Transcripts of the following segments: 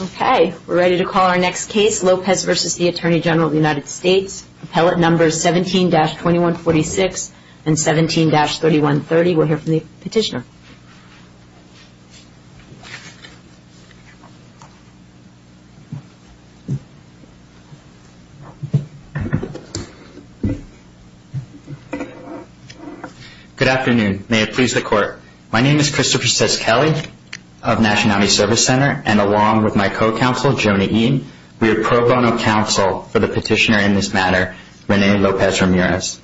Okay, we're ready to call our next case, Lopez v. Atty Gen USA. Appellate numbers 17-2146 and 17-3130. We'll hear from the petitioner. Good afternoon. May it please the Court. My name is Christopher Seskelly of National Army Service Center, and along with my co-counsel, Joni Eaton, we are pro bono counsel for the petitioner in this matter, Rene Lopez Ramirez.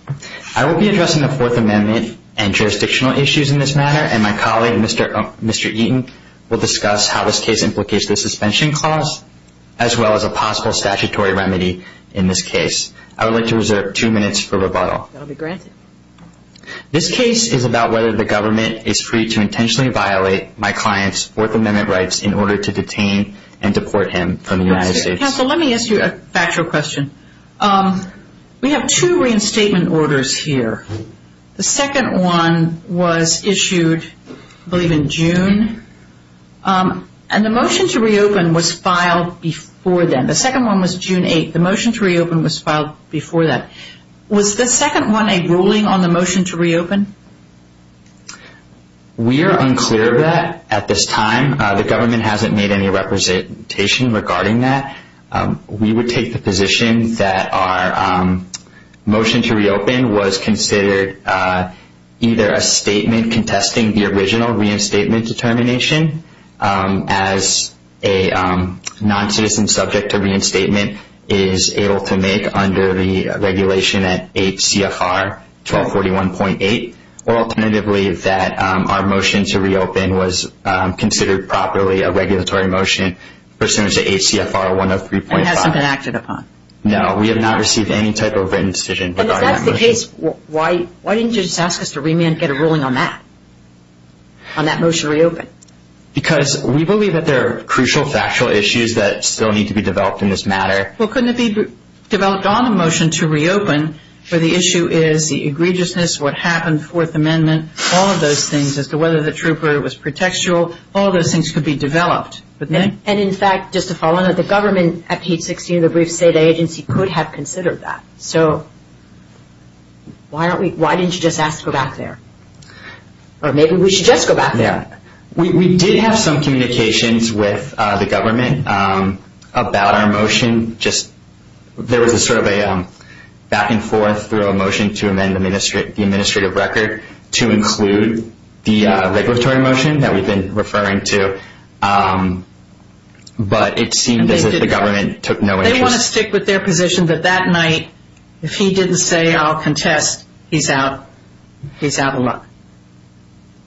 I will be addressing the Fourth Amendment and jurisdictional issues in this matter, and my colleague, Mr. Eaton, will discuss how this case implicates the suspension clause as well as a possible statutory remedy in this case. I would like to reserve two minutes for rebuttal. That will be granted. This case is about whether the government is free to intentionally violate my client's Fourth Amendment rights in order to detain and deport him from the United States. Counsel, let me ask you a factual question. We have two reinstatement orders here. The second one was issued, I believe, in June, and the motion to reopen was filed before then. The second one was June 8th. The motion to reopen was filed before that. Was the second one a ruling on the motion to reopen? We are unclear of that at this time. The government hasn't made any representation regarding that. We would take the position that our motion to reopen was considered either a statement contesting the original reinstatement determination as a non-citizen subject to reinstatement is able to make under the regulation at 8 CFR 1241.8, or alternatively that our motion to reopen was considered properly a regulatory motion pursuant to 8 CFR 103.5. It hasn't been acted upon? No, we have not received any type of written decision regarding that motion. If that's the case, why didn't you just ask us to remand and get a ruling on that, on that motion to reopen? Because we believe that there are crucial factual issues that still need to be developed in this matter. Well, couldn't it be developed on the motion to reopen where the issue is the egregiousness, what happened, Fourth Amendment, all of those things as to whether the trooper was pretextual. All of those things could be developed, wouldn't they? And in fact, just to follow on that, the government at page 16 of the briefs say the agency could have considered that. So, why didn't you just ask to go back there? Or maybe we should just go back there. We did have some communications with the government about our motion. There was sort of a back-and-forth through a motion to amend the administrative record to include the regulatory motion that we've been referring to, but it seemed as if the government took no interest. They want to stick with their position that that night, if he didn't say, I'll contest, he's out of luck.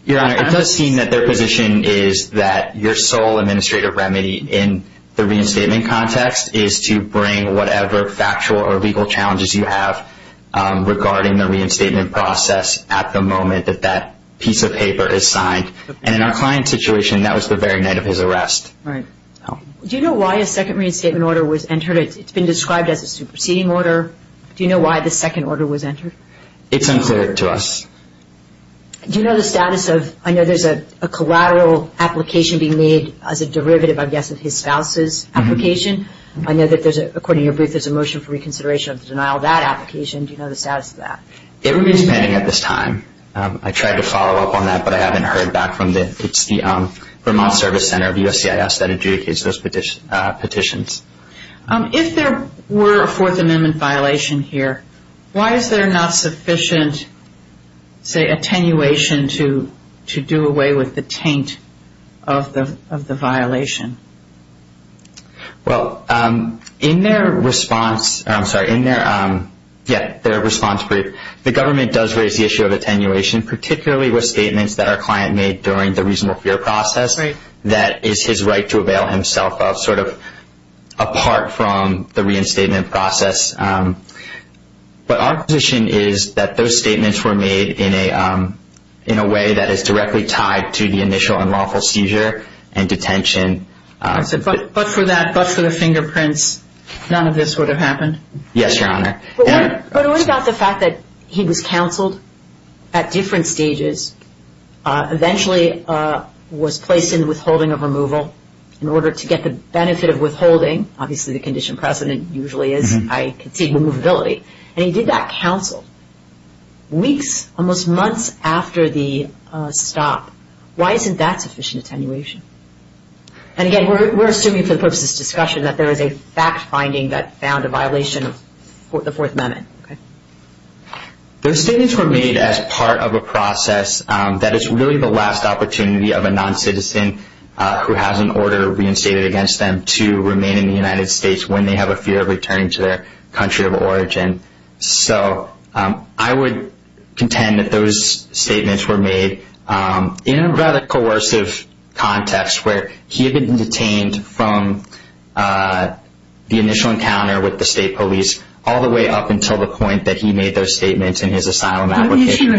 Your Honor, it does seem that their position is that your sole administrative remedy in the reinstatement context is to bring whatever factual or legal challenges you have regarding the reinstatement process at the moment that that piece of paper is signed. And in our client's situation, that was the very night of his arrest. Right. Do you know why a second reinstatement order was entered? It's been described as a superseding order. Do you know why the second order was entered? It's unclear to us. Do you know the status of – I know there's a collateral application being made as a derivative, I guess, of his spouse's application. I know that there's a – according to your brief, there's a motion for reconsideration of the denial of that application. Do you know the status of that? It remains pending at this time. I tried to follow up on that, but I haven't heard back from the – it's the Vermont Service Center of USCIS that adjudicates those petitions. If there were a Fourth Amendment violation here, why is there not sufficient, say, attenuation to do away with the taint of the violation? Well, in their response – I'm sorry, in their – yeah, their response brief, the government does raise the issue of attenuation, particularly with statements that our client made during the reasonable fear process that is his right to avail himself of sort of apart from the reinstatement process. But our position is that those statements were made in a way that is directly tied to the initial unlawful seizure and detention. But for that – but for the fingerprints, none of this would have happened? Yes, Your Honor. But what about the fact that he was counseled at different stages, eventually was placed in withholding of removal in order to get the benefit of withholding? Obviously, the condition precedent usually is, I concede, removability. And he did that counsel weeks, almost months after the stop. Why isn't that sufficient attenuation? And again, we're assuming for the purpose of this discussion that there is a fact-finding that found a violation of the Fourth Amendment. Those statements were made as part of a process that is really the last opportunity of a noncitizen who has an order reinstated against them to remain in the United States when they have a fear of returning to their country of origin. So I would contend that those statements were made in a rather coercive context where he had been detained from the initial encounter with the state police all the way up until the point that he made those statements in his asylum application.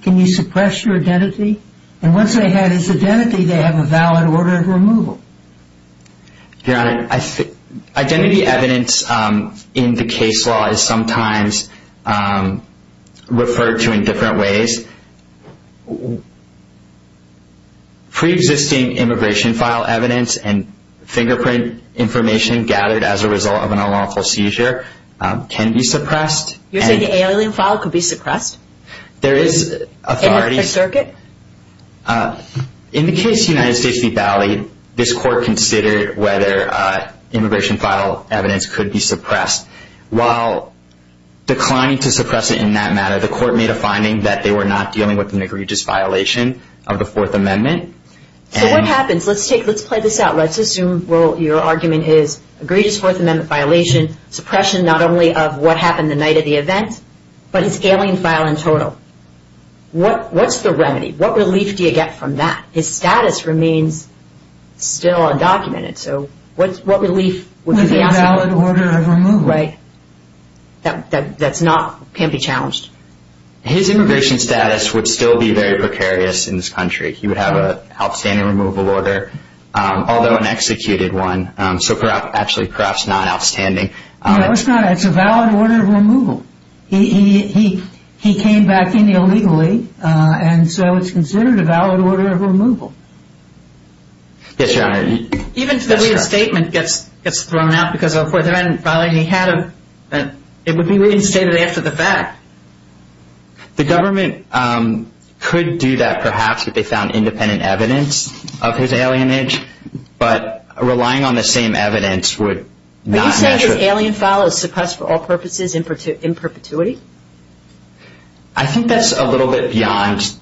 Can you suppress your identity? And once they had his identity, they have a valid order of removal. Your Honor, identity evidence in the case law is sometimes referred to in different ways. Pre-existing immigration file evidence and fingerprint information gathered as a result of an unlawful seizure can be suppressed. You're saying the alien file could be suppressed? There is authorities. In the circuit? In the case United States v. Bali, this court considered whether immigration file evidence could be suppressed. While declining to suppress it in that matter, the court made a finding that they were not dealing with an egregious violation of the Fourth Amendment. So what happens? Let's play this out. Let's assume your argument is egregious Fourth Amendment violation, suppression not only of what happened the night of the event, but his alien file in total. What's the remedy? What relief do you get from that? His status remains still undocumented. So what relief would you be asking for? With a valid order of removal. Right. That can be challenged. His immigration status would still be very precarious in this country. He would have an outstanding removal order, although an executed one, so actually perhaps not outstanding. No, it's not. It's a valid order of removal. He came back in illegally, and so it's considered a valid order of removal. Yes, Your Honor. Even if the statement gets thrown out because of a Fourth Amendment violation he had, it would be reinstated after the fact. The government could do that perhaps if they found independent evidence of his alienage, but relying on the same evidence would not naturally. Are you saying his alien file is suppressed for all purposes in perpetuity? I think that's a little bit beyond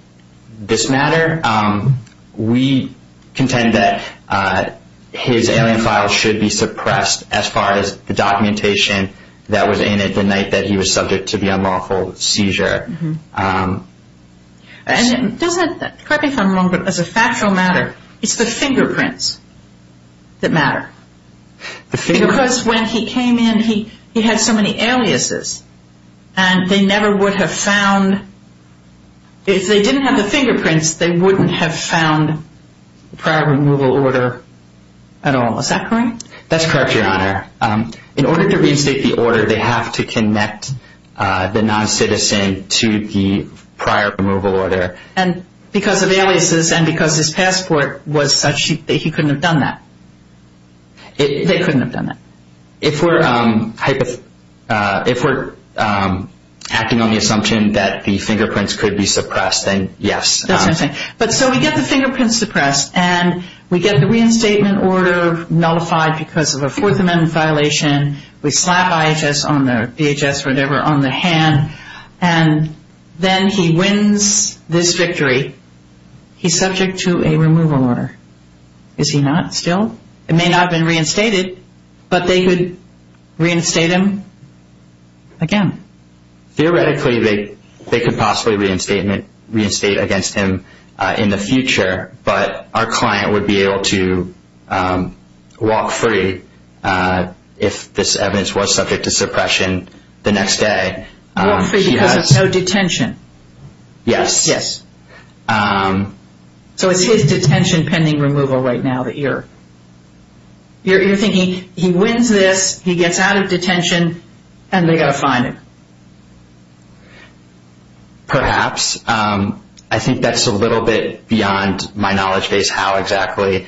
this matter. We contend that his alien file should be suppressed as far as the documentation that was in it the night that he was subject to the unlawful seizure. And correct me if I'm wrong, but as a factual matter, it's the fingerprints that matter. Because when he came in, he had so many aliases, and they never would have found – if they didn't have the fingerprints, they wouldn't have found the prior removal order at all. Is that correct? That's correct, Your Honor. In order to reinstate the order, they have to connect the noncitizen to the prior removal order. And because of aliases and because his passport was such that he couldn't have done that. They couldn't have done that. If we're acting on the assumption that the fingerprints could be suppressed, then yes. That's what I'm saying. But so we get the fingerprints suppressed, and we get the reinstatement order nullified because of a Fourth Amendment violation. We slap IHS on the – DHS, whatever – on the hand. And then he wins this victory. He's subject to a removal order. Is he not still? It may not have been reinstated, but they could reinstate him again. Theoretically, they could possibly reinstate against him in the future, but our client would be able to walk free if this evidence was subject to suppression the next day. Walk free because of no detention? Yes. Yes. So it's his detention pending removal right now that you're – you're thinking he wins this, he gets out of detention, and they've got to fine him. Perhaps. I think that's a little bit beyond my knowledge base, how exactly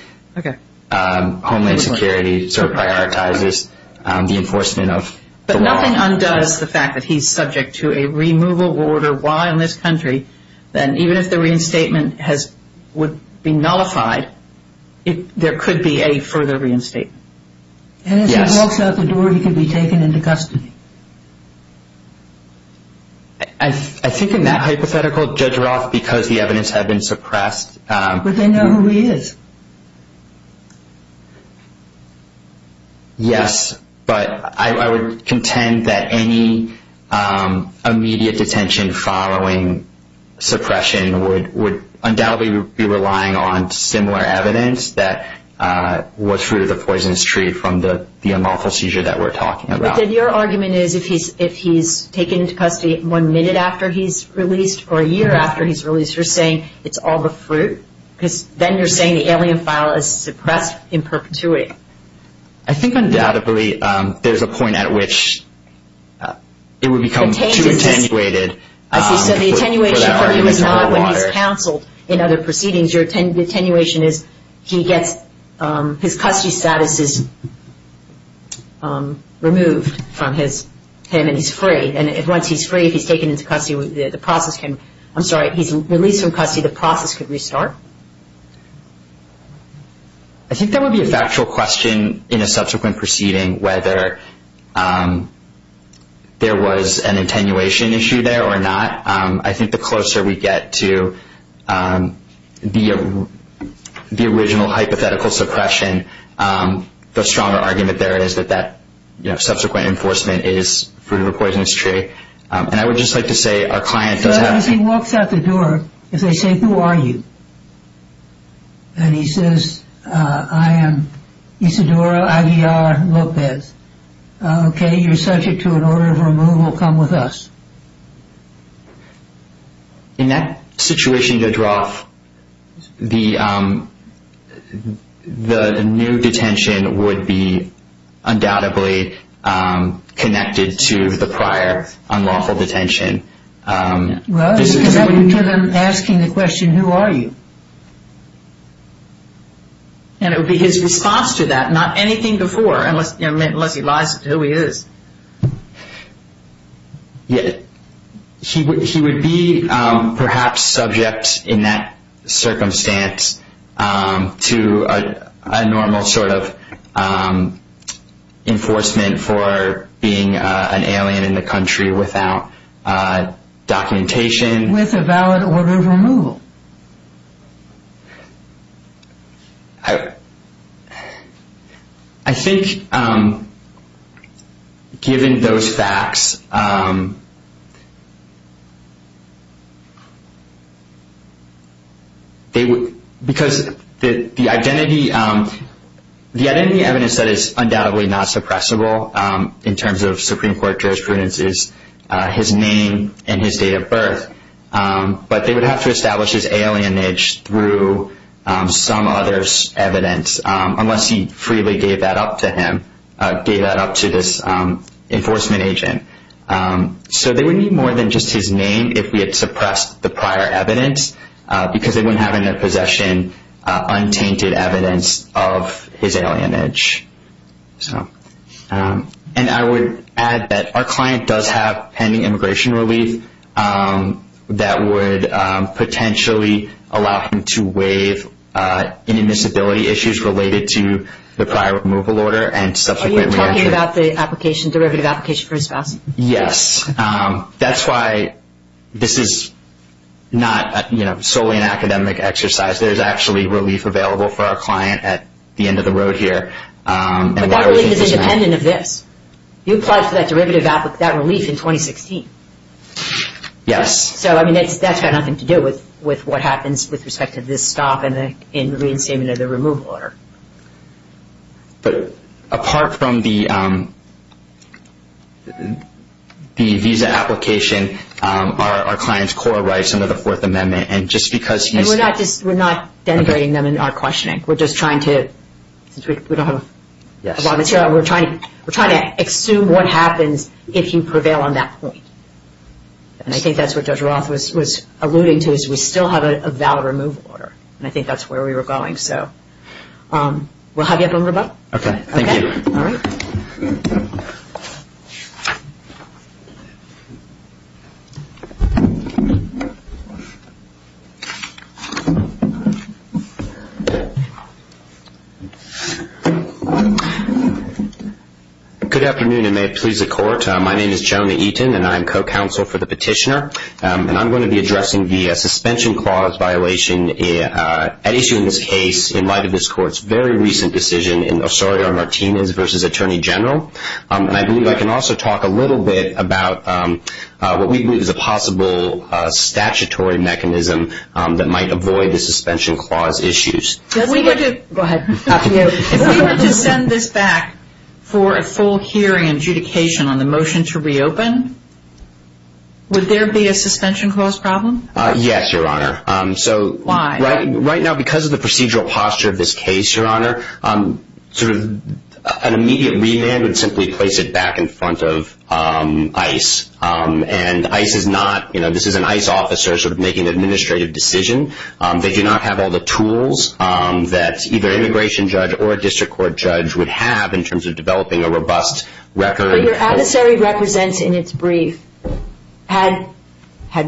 Homeland Security sort of prioritizes the enforcement of the law. If the client undoes the fact that he's subject to a removal order while in this country, then even if the reinstatement has – would be nullified, there could be a further reinstatement. Yes. And if he walks out the door, he could be taken into custody. I think in that hypothetical, Judge Roth, because the evidence had been suppressed – But they know who he is. Yes. But I would contend that any immediate detention following suppression would undoubtedly be relying on similar evidence that was fruit of the poisonous tree from the unlawful seizure that we're talking about. But then your argument is if he's taken into custody one minute after he's released or a year after he's released, you're saying it's all the fruit? Because then you're saying the alien file is suppressed in perpetuity. I think undoubtedly there's a point at which it would become too attenuated. As you said, the attenuation for him is not when he's counseled in other proceedings. Your attenuation is he gets his custody statuses removed from him, and he's free. And once he's free, if he's taken into custody, the process can – I'm sorry. Once he's released from custody, the process could restart. I think that would be a factual question in a subsequent proceeding, whether there was an attenuation issue there or not. I think the closer we get to the original hypothetical suppression, the stronger argument there is that that subsequent enforcement is fruit of the poisonous tree. And I would just like to say our client does have – So as he walks out the door, if they say, who are you? And he says, I am Isadora Aguiar Lopez. Okay, you're subject to an order of removal. Come with us. In that situation, your draw, the new detention would be undoubtedly connected to the prior unlawful detention. Well, because that would be him asking the question, who are you? And it would be his response to that, not anything before, unless he lies to who he is. He would be perhaps subject in that circumstance to a normal sort of enforcement for being an alien in the country without documentation. With a valid order of removal. I think given those facts, because the identity evidence that is undoubtedly not suppressible in terms of Supreme Court jurisprudence is his name and his date of birth, but they would have to establish his alienage through some other evidence, unless he freely gave that up to him, gave that up to this enforcement agent. So they would need more than just his name if we had suppressed the prior evidence, because they wouldn't have in their possession untainted evidence of his alienage. And I would add that our client does have pending immigration relief that would potentially allow him to waive any disability issues related to the prior removal order. Are you talking about the application, derivative application for his spouse? Yes. That's why this is not solely an academic exercise. There's actually relief available for our client at the end of the road here. But that relief is independent of this. You applied for that relief in 2016. Yes. So that's got nothing to do with what happens with respect to this stop in the reinstatement of the removal order. But apart from the visa application, are our client's core rights under the Fourth Amendment? We're not denigrating them in our questioning. We're just trying to assume what happens if you prevail on that point. And I think that's what Judge Roth was alluding to, is we still have a valid removal order. And I think that's where we were going. We'll have you up on the rebuttal. Okay. Thank you. All right. Thank you. Good afternoon, and may it please the Court. My name is Jonah Eaton, and I am co-counsel for the petitioner. And I'm going to be addressing the suspension clause violation at issue in this case in light of this Court's very recent decision in Osorio-Martinez v. Attorney General. And I believe I can also talk a little bit about what we believe is a possible statutory mechanism that might avoid the suspension clause issues. Go ahead. If we were to send this back for a full hearing and adjudication on the motion to reopen, would there be a suspension clause problem? Yes, Your Honor. Why? Right now, because of the procedural posture of this case, Your Honor, sort of an immediate remand would simply place it back in front of ICE. And ICE is not, you know, this is an ICE officer sort of making an administrative decision. They do not have all the tools that either an immigration judge or a district court judge would have in terms of developing a robust record. But your adversary represents in its brief had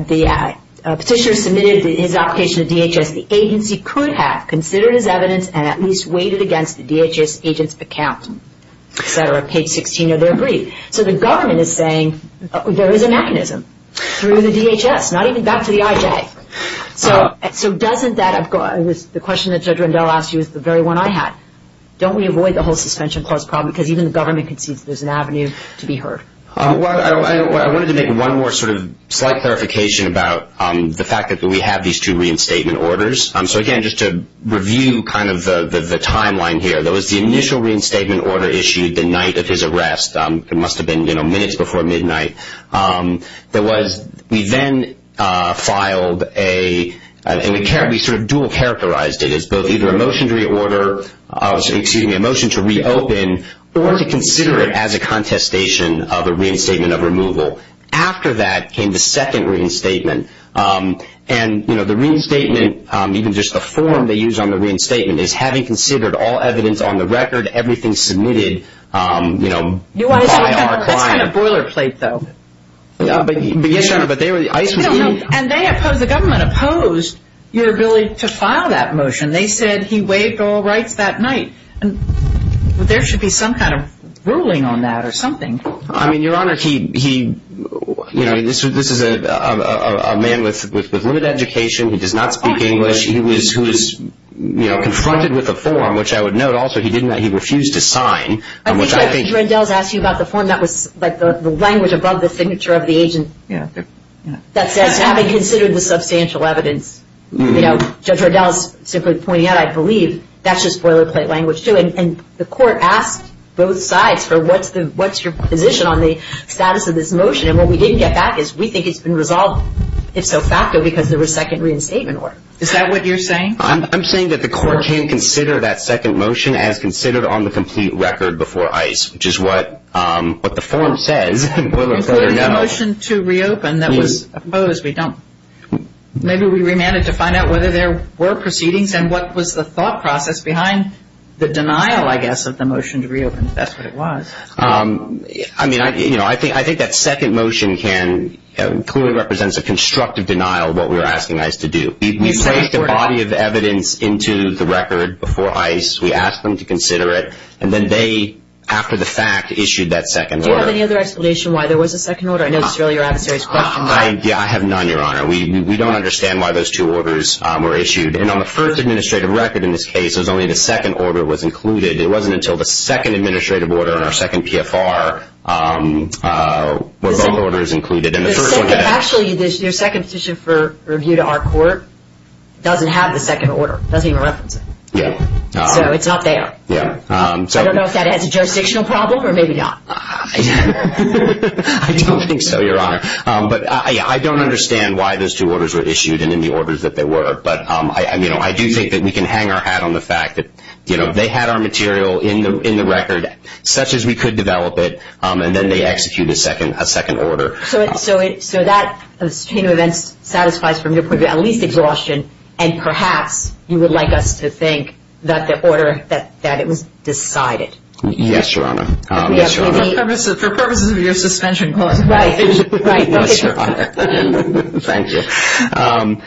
the petitioner submitted his application to DHS, the agency could have considered his evidence and at least weighed it against the DHS agent's account, et cetera, page 16 of their brief. So the government is saying there is a mechanism through the DHS, not even back to the IJ. So doesn't that – the question that Judge Rendell asked you is the very one I had. Don't we avoid the whole suspension clause problem because even the government concedes there's an avenue to be heard? I wanted to make one more sort of slight clarification about the fact that we have these two reinstatement orders. So again, just to review kind of the timeline here, there was the initial reinstatement order issued the night of his arrest. It must have been, you know, minutes before midnight. There was – we then filed a – and we sort of dual characterized it as both either a motion to reorder – excuse me, a motion to reopen or to consider it as a contestation of a reinstatement of removal. After that came the second reinstatement. And, you know, the reinstatement, even just the form they used on the reinstatement is having considered all evidence on the record, everything submitted, you know, by our client. It's kind of boilerplate, though. Yes, Your Honor, but they were – ICE was in – And they opposed – the government opposed your ability to file that motion. They said he waived all rights that night. There should be some kind of ruling on that or something. I mean, Your Honor, he – you know, this is a man with limited education. He does not speak English. He was, you know, confronted with a form, which I would note also he didn't – he refused to sign, which I think – the language above the signature of the agent that says having considered the substantial evidence. You know, Judge Riddell is simply pointing out, I believe, that's just boilerplate language, too. And the court asked both sides for what's the – what's your position on the status of this motion. And what we didn't get back is we think it's been resolved, if so facto, because there was second reinstatement order. Is that what you're saying? I'm saying that the court can't consider that second motion as considered on the complete record before ICE, which is what the form says, boilerplate or no. The motion to reopen that was opposed. We don't – maybe we remanded to find out whether there were proceedings and what was the thought process behind the denial, I guess, of the motion to reopen, if that's what it was. I mean, you know, I think that second motion can – clearly represents a constructive denial of what we were asking ICE to do. We placed a body of evidence into the record before ICE. We asked them to consider it, and then they, after the fact, issued that second order. Do you have any other explanation why there was a second order? I know this is really your adversary's question. I have none, Your Honor. We don't understand why those two orders were issued. And on the first administrative record in this case, it was only the second order was included. It wasn't until the second administrative order in our second PFR were both orders included. Actually, your second petition for review to our court doesn't have the second order. It doesn't even reference it. Yeah. So it's not there. Yeah. I don't know if that has a jurisdictional problem or maybe not. I don't think so, Your Honor. But I don't understand why those two orders were issued and in the orders that they were. But, you know, I do think that we can hang our hat on the fact that, you know, they had our material in the record such as we could develop it, and then they execute a second order. So that chain of events satisfies from your point of view at least exhaustion, and perhaps you would like us to think that the order that it was decided. Yes, Your Honor. For purposes of your suspension clause. Right. Thank you.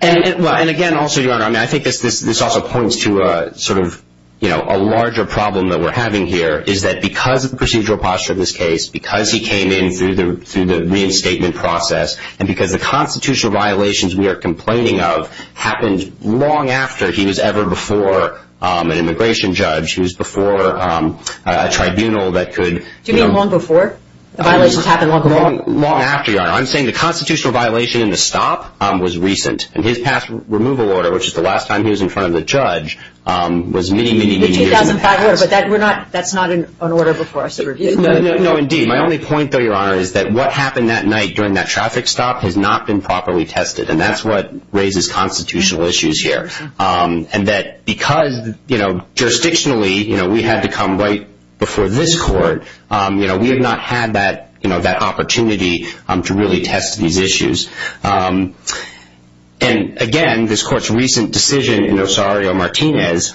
And, again, also, Your Honor, I think this also points to sort of, you know, a larger problem that we're having here is that because of the procedural posture of this case, because he came in through the reinstatement process, and because the constitutional violations we are complaining of happened long after he was ever before an immigration judge, he was before a tribunal that could, you know. Do you mean long before? The violations happened long before? Long after, Your Honor. I'm saying the constitutional violation in the stop was recent, and his past removal order, which is the last time he was in front of the judge, was many, many, many years in the past. The 2005 order, but that's not an order before us. No, indeed. My only point, though, Your Honor, is that what happened that night during that traffic stop has not been properly tested, and that's what raises constitutional issues here. And that because, you know, jurisdictionally, you know, we had to come right before this court, you know, we have not had that, you know, that opportunity to really test these issues. And, again, this court's recent decision in Osario-Martinez,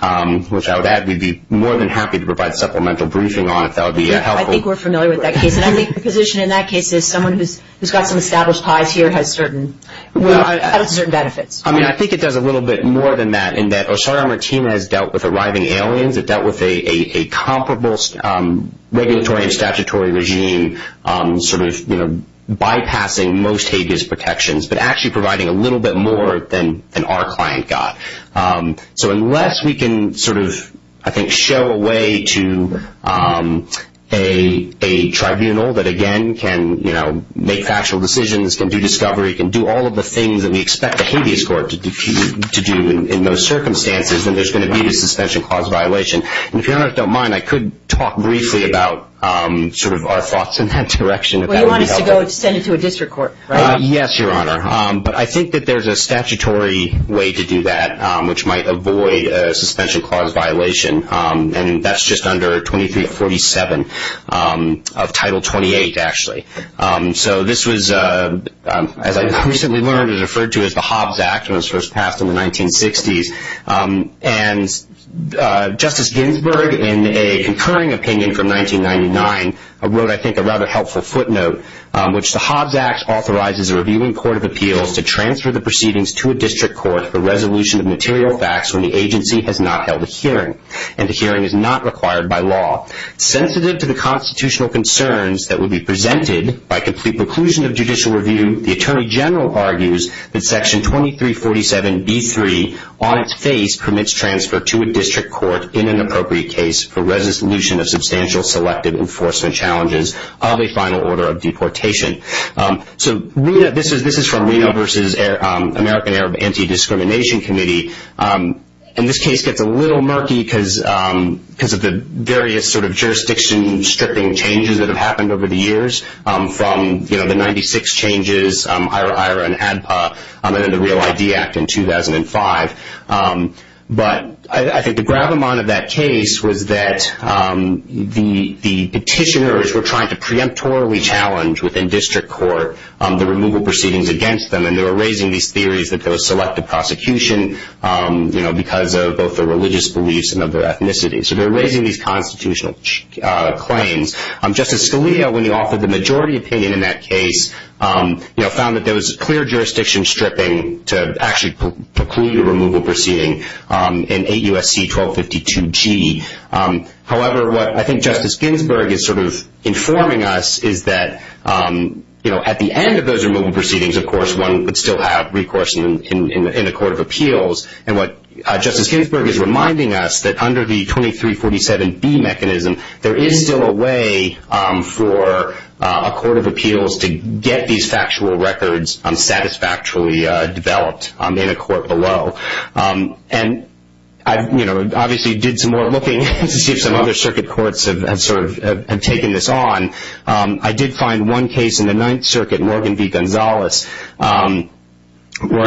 which I would add, we'd be more than happy to provide supplemental briefing on if that would be helpful. I think we're familiar with that case, and I think the position in that case is someone who's got some established ties here has certain benefits. I mean, I think it does a little bit more than that, in that Osario-Martinez dealt with arriving aliens. It dealt with a comparable regulatory and statutory regime, sort of, you know, bypassing most Hague's protections, but actually providing a little bit more than our client got. So unless we can sort of, I think, show a way to a tribunal that, again, can, you know, make factual decisions, can do discovery, can do all of the things that we expect a Hague's court to do in those circumstances, then there's going to be a suspension clause violation. And if Your Honor don't mind, I could talk briefly about sort of our thoughts in that direction, if that would be helpful. Well, you want us to go and send it to a district court, right? Yes, Your Honor. But I think that there's a statutory way to do that, which might avoid a suspension clause violation, and that's just under 2347 of Title 28, actually. So this was, as I recently learned, referred to as the Hobbs Act when it was first passed in the 1960s. And Justice Ginsburg, in a concurring opinion from 1999, wrote, I think, a rather helpful footnote, which the Hobbs Act authorizes a reviewing court of appeals to transfer the proceedings to a district court for resolution of material facts when the agency has not held a hearing and the hearing is not required by law. Sensitive to the constitutional concerns that would be presented by complete preclusion of judicial review, the Attorney General argues that Section 2347B3, on its face, permits transfer to a district court in an appropriate case for resolution of substantial selective enforcement challenges of a final order of deportation. So this is from RIA versus American Arab Anti-Discrimination Committee. And this case gets a little murky because of the various sort of jurisdiction-stripping changes that have happened over the years from, you know, the 96 changes, IRA-IRA and ADPA, and then the REAL ID Act in 2005. But I think the gravamonte of that case was that the petitioners were trying to preemptorily challenge within district court the removal proceedings against them, and they were raising these theories that there was selective prosecution, you know, because of both the religious beliefs and of their ethnicity. So they were raising these constitutional claims. Justice Scalia, when he offered the majority opinion in that case, you know, found that there was clear jurisdiction stripping to actually preclude a removal proceeding in 8 U.S.C. 1252G. However, what I think Justice Ginsburg is sort of informing us is that, you know, at the end of those removal proceedings, of course, one would still have recourse in a court of appeals. And what Justice Ginsburg is reminding us, that under the 2347B mechanism, there is still a way for a court of appeals to get these factual records satisfactorily developed in a court below. And I, you know, obviously did some more looking to see if some other circuit courts have sort of taken this on. I did find one case in the Ninth Circuit, Morgan v. Gonzalez, where,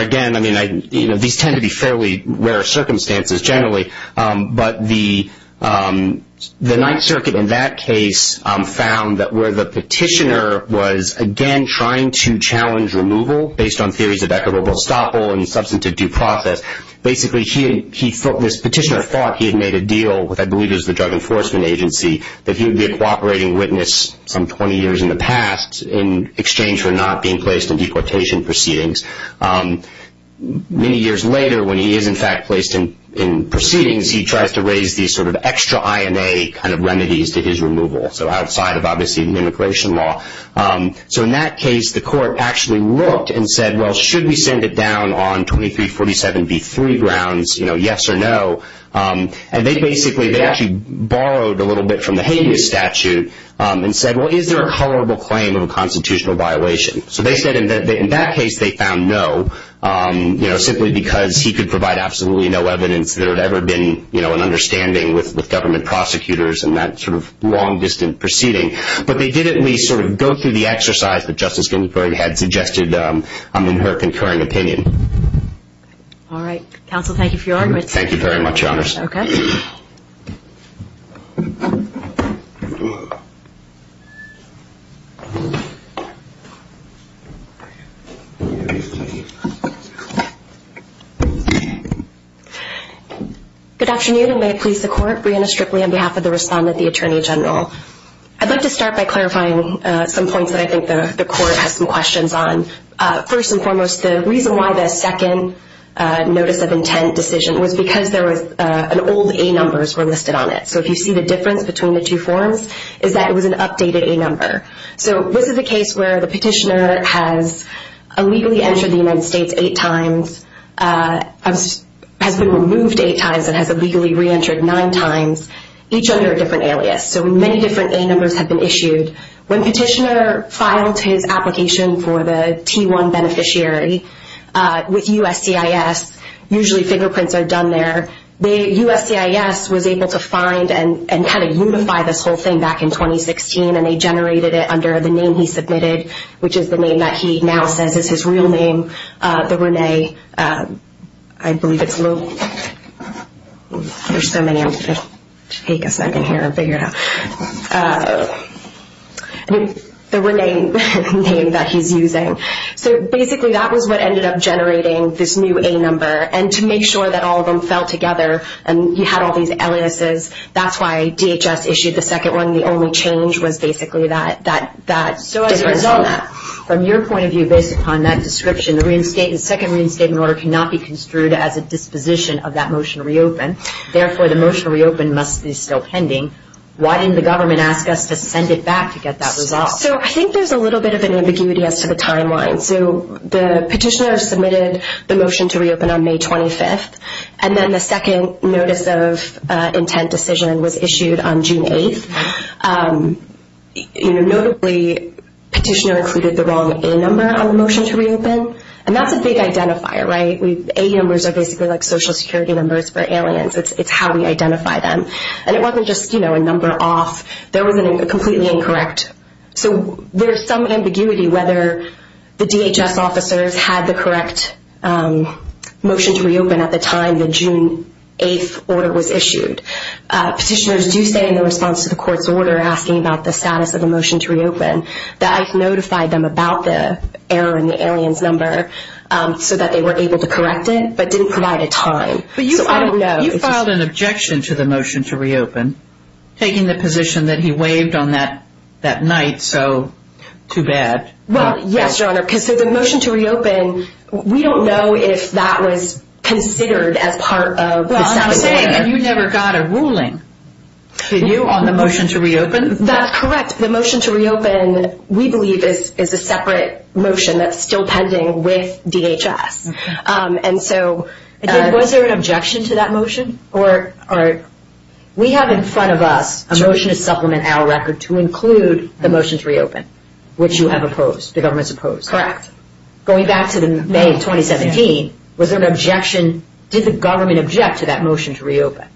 again, I mean, you know, these tend to be fairly rare circumstances generally. But the Ninth Circuit in that case found that where the petitioner was, again, trying to challenge removal based on theories of equitable estoppel and substantive due process, basically this petitioner thought he had made a deal with, I believe it was the Drug Enforcement Agency, that he would be a cooperating witness some 20 years in the past in exchange for not being placed in deportation proceedings. Many years later, when he is, in fact, placed in proceedings, he tries to raise these sort of extra INA kind of remedies to his removal. So outside of, obviously, the immigration law. So in that case, the court actually looked and said, well, should we send it down on 2347B3 grounds, you know, yes or no? And they basically, they actually borrowed a little bit from the habeas statute and said, well, is there a colorable claim of a constitutional violation? So they said in that case they found no, you know, simply because he could provide absolutely no evidence there had ever been, you know, an understanding with government prosecutors in that sort of long, distant proceeding. But they did at least sort of go through the exercise that Justice Ginsburg had suggested in her concurring opinion. All right. Counsel, thank you for your arguments. Thank you very much, Your Honors. Okay. Thank you. Good afternoon, and may it please the Court. Breanna Stripley on behalf of the respondent, the Attorney General. I'd like to start by clarifying some points that I think the Court has some questions on. First and foremost, the reason why the second notice of intent decision was because there was an old A numbers were listed on it. So if you see the difference between the two forms is that it was an updated A number. So this is a case where the petitioner has illegally entered the United States eight times, has been removed eight times, and has illegally reentered nine times, each under a different alias. So many different A numbers have been issued. When petitioner filed his application for the T1 beneficiary with USCIS, usually fingerprints are done there. The USCIS was able to find and kind of unify this whole thing back in 2016, and they generated it under the name he submitted, which is the name that he now says is his real name, the Rene. I believe it's Lou. There's so many. I'm going to take a second here and figure it out. The Rene name that he's using. So basically that was what ended up generating this new A number. And to make sure that all of them fell together and you had all these aliases, that's why DHS issued the second one. The only change was basically that difference. So as a result of that, from your point of view based upon that description, the second reinstatement order cannot be construed as a disposition of that motion to reopen. Therefore, the motion to reopen must be still pending. Why didn't the government ask us to send it back to get that resolved? So I think there's a little bit of an ambiguity as to the timeline. So the petitioner submitted the motion to reopen on May 25th, and then the second notice of intent decision was issued on June 8th. Notably, the petitioner included the wrong A number on the motion to reopen, and that's a big identifier, right? A numbers are basically like Social Security numbers for aliens. It's how we identify them. And it wasn't just a number off. There was a completely incorrect. So there's some ambiguity whether the DHS officers had the correct motion to reopen at the time the June 8th order was issued. Petitioners do say in response to the court's order asking about the status of the motion to reopen that I've notified them about the error in the aliens number so that they were able to correct it, but didn't provide a time. But you filed an objection to the motion to reopen, taking the position that he waived on that night, so too bad. Well, yes, Your Honor, because the motion to reopen, we don't know if that was considered as part of the second order. Well, I'm saying you never got a ruling, did you, on the motion to reopen? That's correct. The motion to reopen, we believe, is a separate motion that's still pending with DHS. Was there an objection to that motion? We have in front of us a motion to supplement our record to include the motion to reopen, which you have opposed, the government's opposed. Correct. Going back to May of 2017, was there an objection, did the government object to that motion to reopen?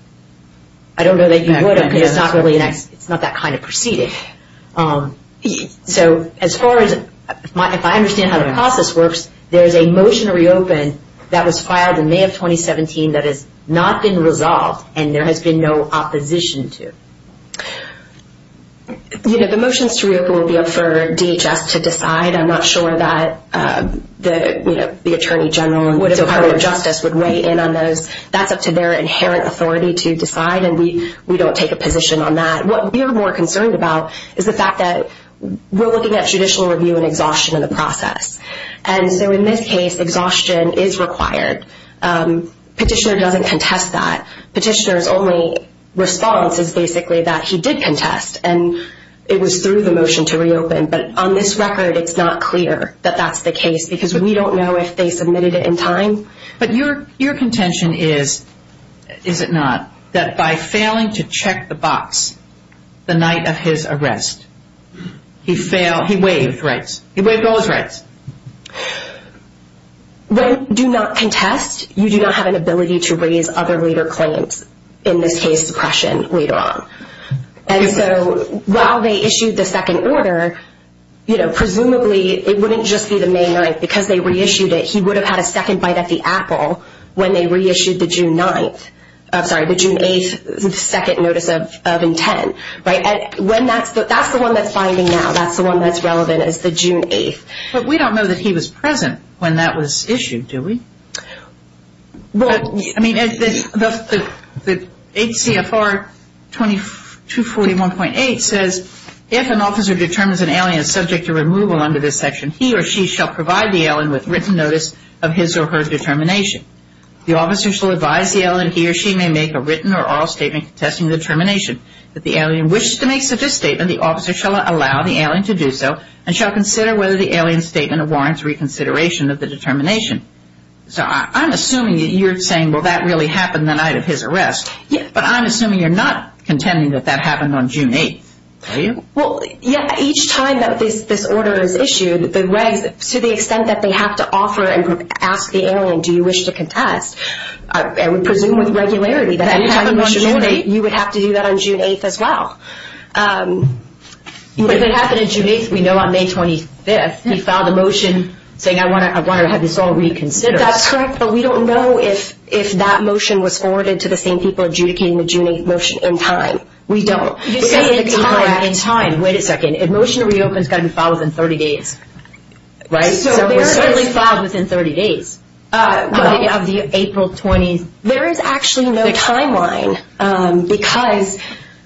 I don't know that you would have, because it's not that kind of proceeding. So, as far as, if I understand how the process works, there's a motion to reopen that was filed in May of 2017 that has not been resolved, and there has been no opposition to. You know, the motions to reopen will be up for DHS to decide. I'm not sure that the Attorney General and the Department of Justice would weigh in on those. That's up to their inherent authority to decide, and we don't take a position on that. What we're more concerned about is the fact that we're looking at judicial review and exhaustion in the process. And so, in this case, exhaustion is required. Petitioner doesn't contest that. Petitioner's only response is basically that he did contest, and it was through the motion to reopen. But on this record, it's not clear that that's the case, because we don't know if they submitted it in time. But your contention is, is it not, that by failing to check the box the night of his arrest, he failed? He waived rights. He waived all his rights. When you do not contest, you do not have an ability to raise other later claims, in this case, suppression, later on. And so, while they issued the second order, you know, presumably, it wouldn't just be the main right. Because they reissued it, he would have had a second bite at the apple when they reissued the June 9th. I'm sorry, the June 8th second notice of intent. Right? That's the one that's binding now. That's the one that's relevant, is the June 8th. But we don't know that he was present when that was issued, do we? Well, I mean, the 8 CFR 241.8 says, if an officer determines an alien is subject to removal under this section, he or she shall provide the alien with written notice of his or her determination. The officer shall advise the alien he or she may make a written or oral statement contesting the determination. If the alien wishes to make such a statement, the officer shall allow the alien to do so and shall consider whether the alien's statement warrants reconsideration of the determination. So I'm assuming that you're saying, well, that really happened the night of his arrest. Yeah. But I'm assuming you're not contending that that happened on June 8th, are you? Well, yeah, each time that this order is issued, to the extent that they have to offer and ask the alien, do you wish to contest, I would presume with regularity that you would have to do that on June 8th as well. If it happened on June 8th, we know on May 25th, he filed a motion saying, I want to have this all reconsidered. That's correct. But we don't know if that motion was forwarded to the same people adjudicating the June 8th motion in time. We don't. You say in time. In time. Wait a second. If a motion reopens, it's got to be filed within 30 days, right? So we're certainly filed within 30 days of the April 20th. There is actually no timeline because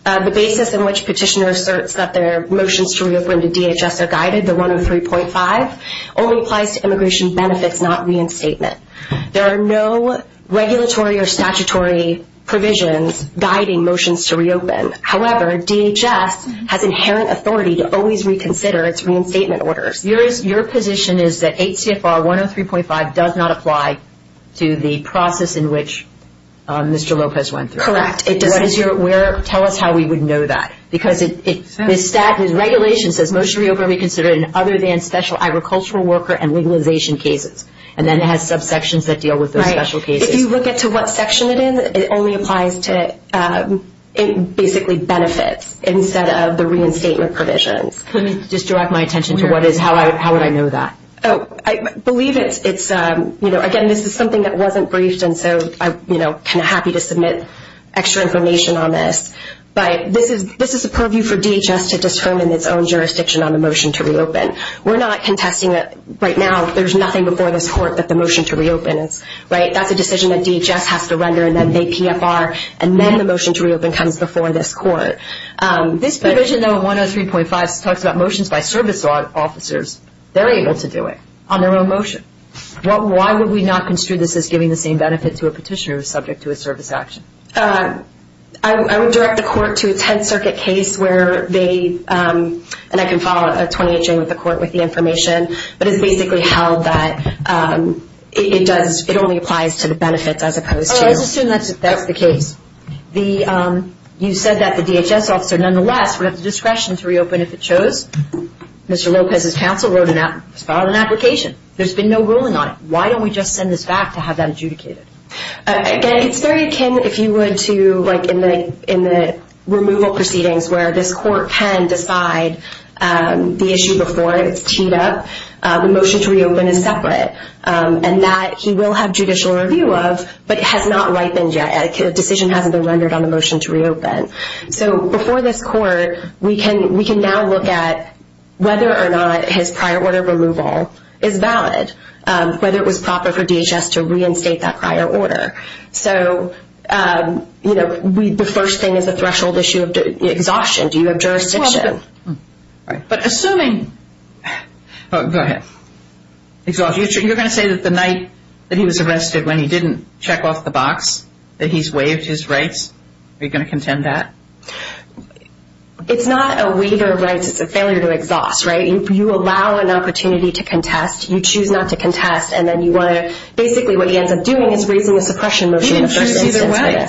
the basis in which petitioners assert that their motions to reopen to DHS are guided, the 103.5, only applies to immigration benefits, not reinstatement. There are no regulatory or statutory provisions guiding motions to reopen. However, DHS has inherent authority to always reconsider its reinstatement orders. Your position is that 8 CFR 103.5 does not apply to the process in which Mr. Lopez went through. Correct. Tell us how we would know that. Because the regulation says motion to reopen be considered in other than special agricultural worker and legalization cases. And then it has subsections that deal with those special cases. Right. If you look at to what section it is, it only applies to basically benefits instead of the reinstatement provisions. Just direct my attention to how would I know that. I believe it's, again, this is something that wasn't briefed, and so I'm kind of happy to submit extra information on this. But this is a purview for DHS to determine its own jurisdiction on the motion to reopen. We're not contesting it right now. There's nothing before this court that the motion to reopen is. That's a decision that DHS has to render, and then 8 PFR, and then the motion to reopen comes before this court. This provision, though, 103.5, talks about motions by service officers. They're able to do it on their own motion. Why would we not construe this as giving the same benefit to a petitioner who is subject to a service action? I would direct the court to a Tenth Circuit case where they, and I can follow up with the court with the information, but it's basically held that it only applies to the benefits as opposed to. I assume that's the case. You said that the DHS officer, nonetheless, would have the discretion to reopen if it chose. Mr. Lopez's counsel filed an application. There's been no ruling on it. Why don't we just send this back to have that adjudicated? Again, it's very akin, if you would, to in the removal proceedings where this court can decide the issue before it's teed up. The motion to reopen is separate, and that he will have judicial review of, but it has not ripened yet. A decision hasn't been rendered on the motion to reopen. So before this court, we can now look at whether or not his prior order of removal is valid, whether it was proper for DHS to reinstate that prior order. So, you know, the first thing is a threshold issue of exhaustion. Do you have jurisdiction? But assuming, go ahead, you're going to say that the night that he was arrested, when he didn't check off the box, that he's waived his rights? Are you going to contend that? It's not a waiver of rights. It's a failure to exhaust, right? You allow an opportunity to contest. You choose not to contest, and then you want to basically what he ends up doing is raising a suppression motion in the first instance. He didn't choose either way.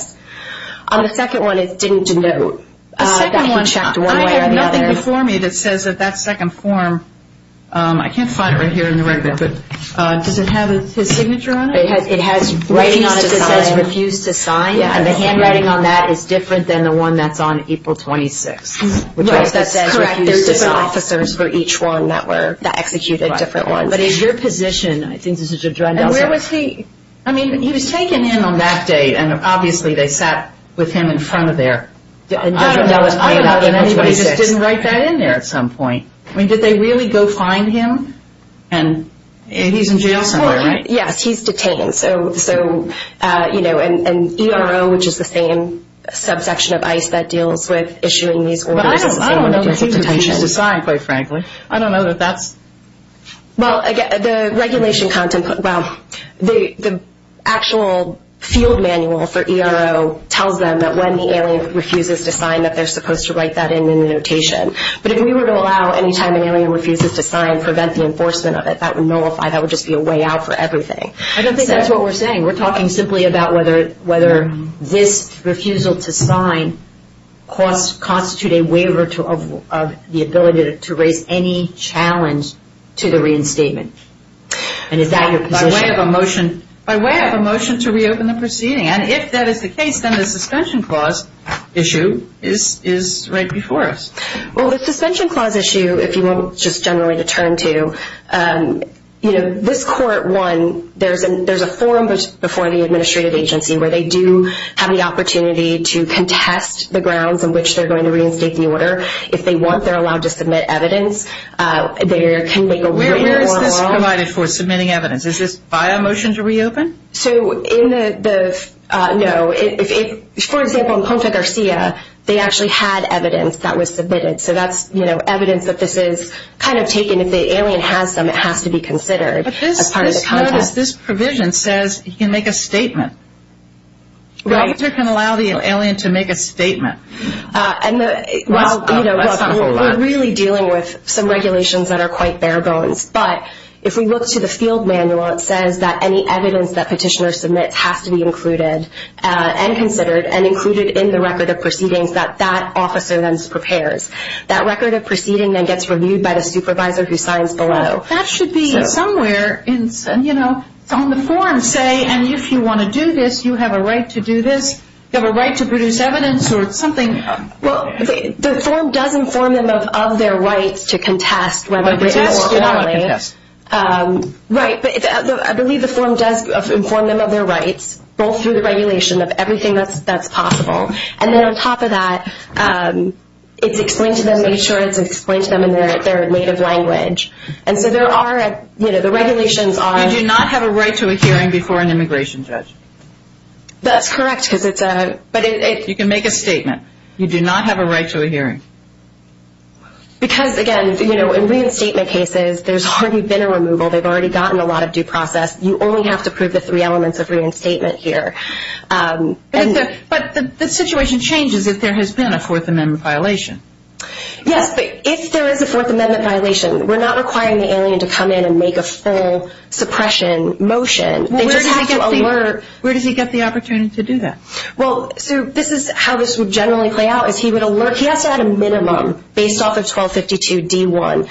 On the second one, it didn't denote that he checked one way or the other. The second one, I have nothing before me that says that that second form, I can't find it right here in the record, but does it have his signature on it? It has writing on it that says refuse to sign, and the handwriting on that is different than the one that's on April 26th, which means that says refuse to sign. Right, that's correct. There's different officers for each one that were, that executed different ones. But in your position, I think this is a drug delivery. And where was he? I mean, he was taken in on that date, and obviously they sat with him in front of there. I don't know if anybody just didn't write that in there at some point. I mean, did they really go find him? And he's in jail somewhere, right? Yes, he's detained. So, you know, and ERO, which is the same subsection of ICE that deals with issuing these orders. I don't know that he refused to sign, quite frankly. I don't know that that's. Well, the regulation content, well, the actual field manual for ERO tells them that when the alien refuses to sign, that they're supposed to write that in in the notation. But if we were to allow any time an alien refuses to sign, prevent the enforcement of it, that would nullify, that would just be a way out for everything. I don't think that's what we're saying. We're talking simply about whether this refusal to sign constitutes a waiver of the ability to raise any challenge to the reinstatement. And is that your position? By way of a motion to reopen the proceeding. And if that is the case, then the suspension clause issue is right before us. Well, the suspension clause issue, if you want just generally to turn to, you know, this court, one, there's a forum before the administrative agency where they do have the opportunity to contest the grounds on which they're going to reinstate the order. If they want, they're allowed to submit evidence. Where is this provided for, submitting evidence? Is this by a motion to reopen? So in the, no, if, for example, in Contra Garcia, they actually had evidence that was submitted. So that's, you know, evidence that this is kind of taken. If the alien has some, it has to be considered as part of the contest. What we have is this provision says he can make a statement. The officer can allow the alien to make a statement. And the, well, you know, we're really dealing with some regulations that are quite bare bones. But if we look to the field manual, it says that any evidence that petitioner submits has to be included and considered and included in the record of proceedings that that officer then prepares. That record of proceeding then gets reviewed by the supervisor who signs below. That should be somewhere in, you know, on the form, say, and if you want to do this, you have a right to do this. You have a right to produce evidence or something. Well, the form does inform them of their rights to contest. You're not allowed to contest. Right, but I believe the form does inform them of their rights, both through the regulation of everything that's possible. And then on top of that, it's explained to them, made sure it's explained to them in their native language. And so there are, you know, the regulations are... You do not have a right to a hearing before an immigration judge. That's correct because it's a... You can make a statement. You do not have a right to a hearing. Because, again, you know, in reinstatement cases, there's already been a removal. They've already gotten a lot of due process. You only have to prove the three elements of reinstatement here. But the situation changes if there has been a Fourth Amendment violation. Yes, but if there is a Fourth Amendment violation, we're not requiring the alien to come in and make a full suppression motion. They just have to alert... Where does he get the opportunity to do that? Well, so this is how this would generally play out, is he would alert... He has to have a minimum, based off of 1252 D1,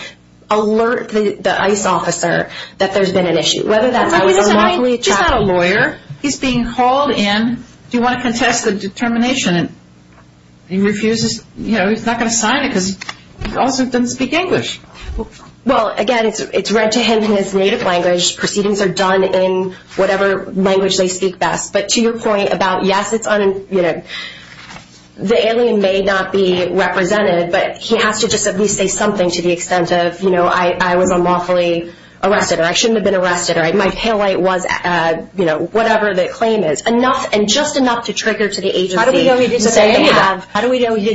alert the ICE officer that there's been an issue. Whether that's... He's not a lawyer. He's being called in. Do you want to contest the determination? He refuses. You know, he's not going to sign it because he also doesn't speak English. Well, again, it's read to him in his native language. Proceedings are done in whatever language they speak best. But to your point about, yes, it's... The alien may not be represented, but he has to just at least say something to the extent of, you know, I was unlawfully arrested or I shouldn't have been arrested or my pale white was, you know, whatever the claim is. And just enough to trigger to the agency... How do we know he didn't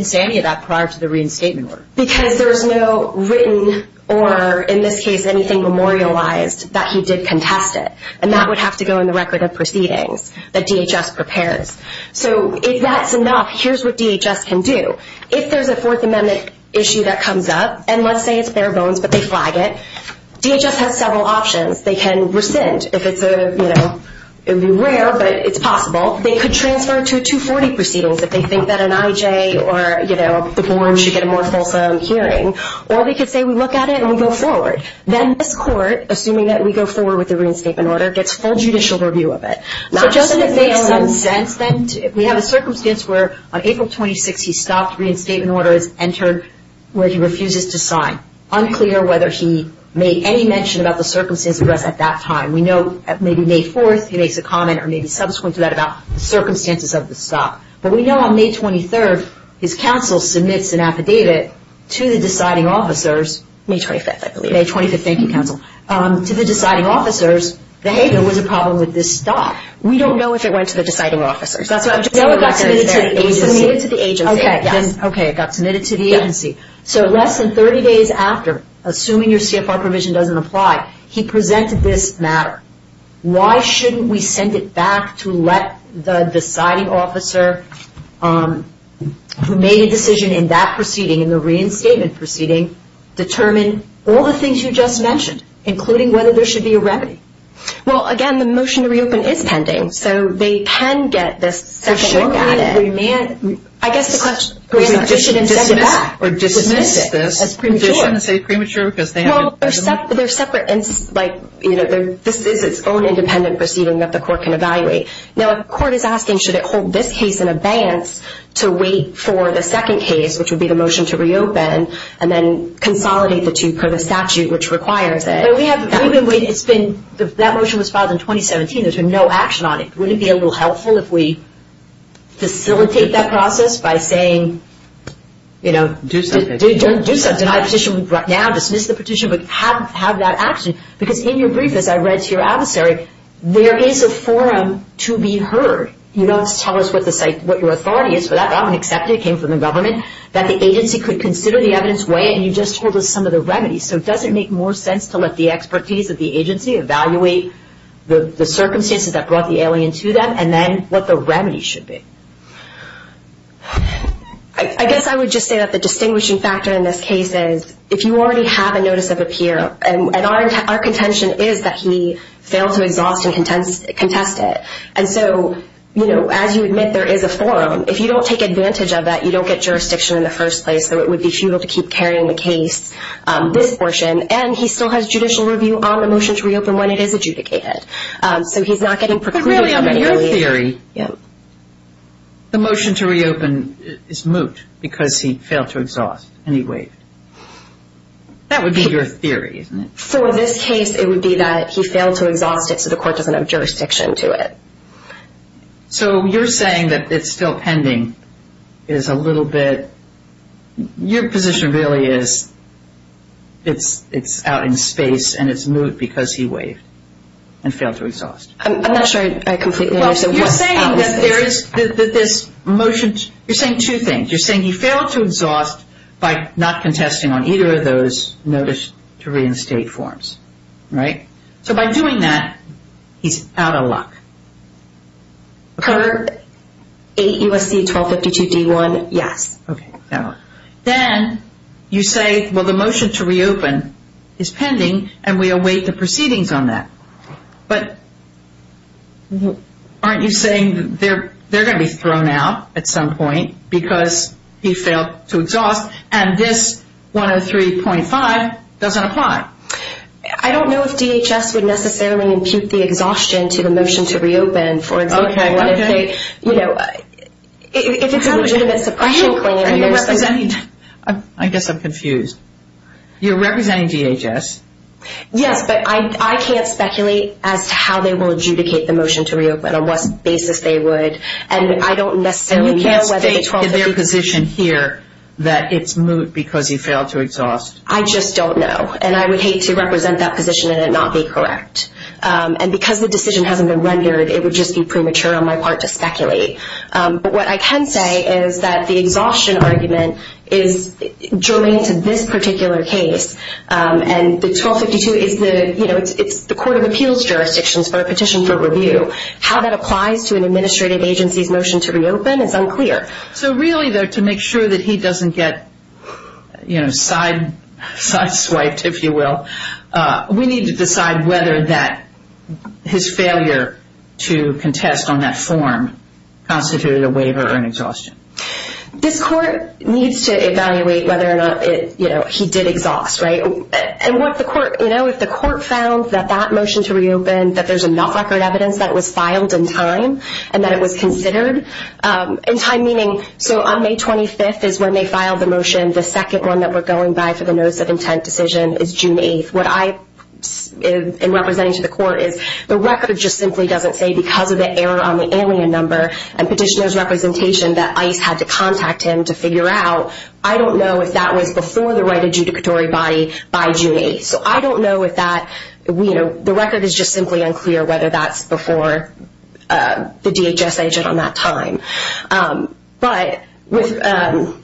say any of that prior to the reinstatement order? Because there's no written or, in this case, anything memorialized that he did contest it. And that would have to go in the record of proceedings that DHS prepares. So if that's enough, here's what DHS can do. If there's a Fourth Amendment issue that comes up, and let's say it's bare bones but they flag it, DHS has several options. They can rescind if it's a, you know, it would be rare, but it's possible. They could transfer to a 240 proceedings if they think that an IJ or, you know, the board should get a more fulsome hearing. Or they could say we look at it and we go forward. Then this court, assuming that we go forward with the reinstatement order, gets full judicial review of it. So doesn't it make some sense then to... We have a circumstance where on April 26th he stopped. Reinstatement order is entered where he refuses to sign. It's unclear whether he made any mention about the circumstances at that time. We know that maybe May 4th he makes a comment or maybe subsequent to that about the circumstances of the stop. But we know on May 23rd his counsel submits an affidavit to the deciding officers. May 25th, I believe. May 25th, thank you, counsel. To the deciding officers that, hey, there was a problem with this stop. We don't know if it went to the deciding officers. No, it got submitted to the agency. It was submitted to the agency. Okay, it got submitted to the agency. So less than 30 days after, assuming your CFR provision doesn't apply, he presented this matter. Why shouldn't we send it back to let the deciding officer who made a decision in that proceeding, in the reinstatement proceeding, determine all the things you just mentioned, including whether there should be a remedy? Well, again, the motion to reopen is pending. So they can get this second look at it. I guess the question is should we send it back or dismiss it as premature? Well, they're separate. This is its own independent proceeding that the court can evaluate. Now, if the court is asking should it hold this case in abeyance to wait for the second case, which would be the motion to reopen, and then consolidate the two per the statute which requires it. That motion was filed in 2017. There's been no action on it. Wouldn't it be a little helpful if we facilitate that process by saying, you know, do something, deny the petition right now, dismiss the petition, but have that action? Because in your brief, as I read to your adversary, there is a forum to be heard. You don't tell us what your authority is for that. I'm going to accept it. It came from the government that the agency could consider the evidence way, and you just told us some of the remedies. So does it make more sense to let the expertise of the agency evaluate the circumstances that brought the alien to them and then what the remedy should be? I guess I would just say that the distinguishing factor in this case is if you already have a notice of appeal, and our contention is that he failed to exhaust and contest it. And so, you know, as you admit, there is a forum. If you don't take advantage of that, you don't get jurisdiction in the first place, so it would be futile to keep carrying the case, this portion. And he still has judicial review on the motion to reopen when it is adjudicated. So he's not getting procluded. But really, on your theory, the motion to reopen is moot because he failed to exhaust and he waived. That would be your theory, isn't it? So in this case, it would be that he failed to exhaust it, so the court doesn't have jurisdiction to it. So you're saying that it's still pending is a little bit – your position really is it's out in space and it's moot because he waived and failed to exhaust. I'm not sure I completely understand. Well, you're saying that there is – that this motion – you're saying two things. You're saying he failed to exhaust by not contesting on either of those notice to reinstate forms, right? So by doing that, he's out of luck. Per 8 U.S.C. 1252 D.1, yes. Okay. Then you say, well, the motion to reopen is pending and we await the proceedings on that. But aren't you saying they're going to be thrown out at some point because he failed to exhaust and this 103.5 doesn't apply? I don't know if DHS would necessarily impute the exhaustion to the motion to reopen, for example. If it's a legitimate suppression claim. I guess I'm confused. You're representing DHS? Yes, but I can't speculate as to how they will adjudicate the motion to reopen on what basis they would. And I don't necessarily know whether the 1253 – And you can't state in their position here that it's moot because he failed to exhaust? I just don't know. And I would hate to represent that position and it not be correct. And because the decision hasn't been rendered, it would just be premature on my part to speculate. But what I can say is that the exhaustion argument is germane to this particular case. And the 1252 is the – you know, it's the court of appeals jurisdictions for a petition for review. How that applies to an administrative agency's motion to reopen is unclear. So really, though, to make sure that he doesn't get, you know, sideswiped, if you will, we need to decide whether that – his failure to contest on that form constituted a waiver or an exhaustion. This court needs to evaluate whether or not, you know, he did exhaust, right? And what the court – you know, if the court found that that motion to reopen, that there's enough record evidence that it was filed in time and that it was considered in time, meaning – so on May 25th is when they filed the motion. The second one that we're going by for the notice of intent decision is June 8th. What I – in representing to the court is the record just simply doesn't say because of the error on the alien number and petitioner's representation that ICE had to contact him to figure out, I don't know if that was before the right adjudicatory body by June 8th. So I don't know if that – you know, the record is just simply unclear whether that's before the DHS agent on that time. But with –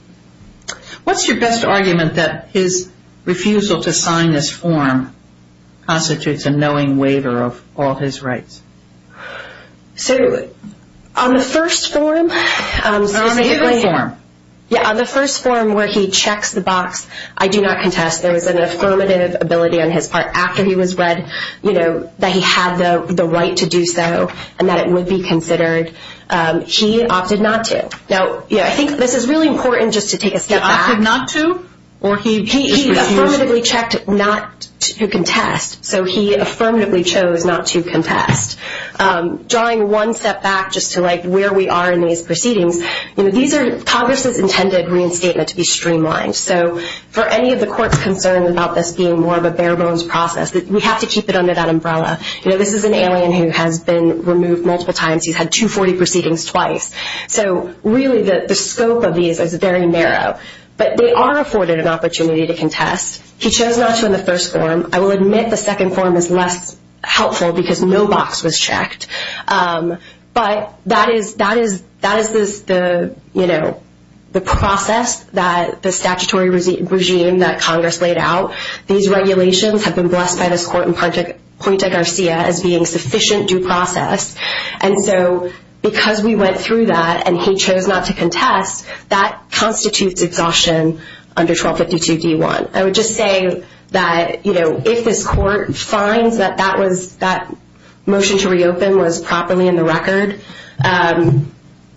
What's your best argument that his refusal to sign this form constitutes a knowing waiver of all his rights? So on the first form – Or on a different form. Yeah, on the first form where he checks the box, I do not contest. There was an affirmative ability on his part after he was read, you know, that he had the right to do so and that it would be considered. He opted not to. Now, yeah, I think this is really important just to take a step back. He opted not to or he just refused? He affirmatively checked not to contest. So he affirmatively chose not to contest. Drawing one step back just to, like, where we are in these proceedings, you know, these are – Congress's intended reinstatement to be streamlined. So for any of the court's concern about this being more of a bare-bones process, we have to keep it under that umbrella. You know, this is an alien who has been removed multiple times. He's had 240 proceedings twice. So, really, the scope of these is very narrow. But they are afforded an opportunity to contest. He chose not to in the first form. I will admit the second form is less helpful because no box was checked. But that is the, you know, the process that the statutory regime that Congress laid out. These regulations have been blessed by this court in Puente Garcia as being sufficient due process. And so because we went through that and he chose not to contest, that constitutes exhaustion under 1252D1. I would just say that, you know, if this court finds that that was – that motion to reopen was properly in the record,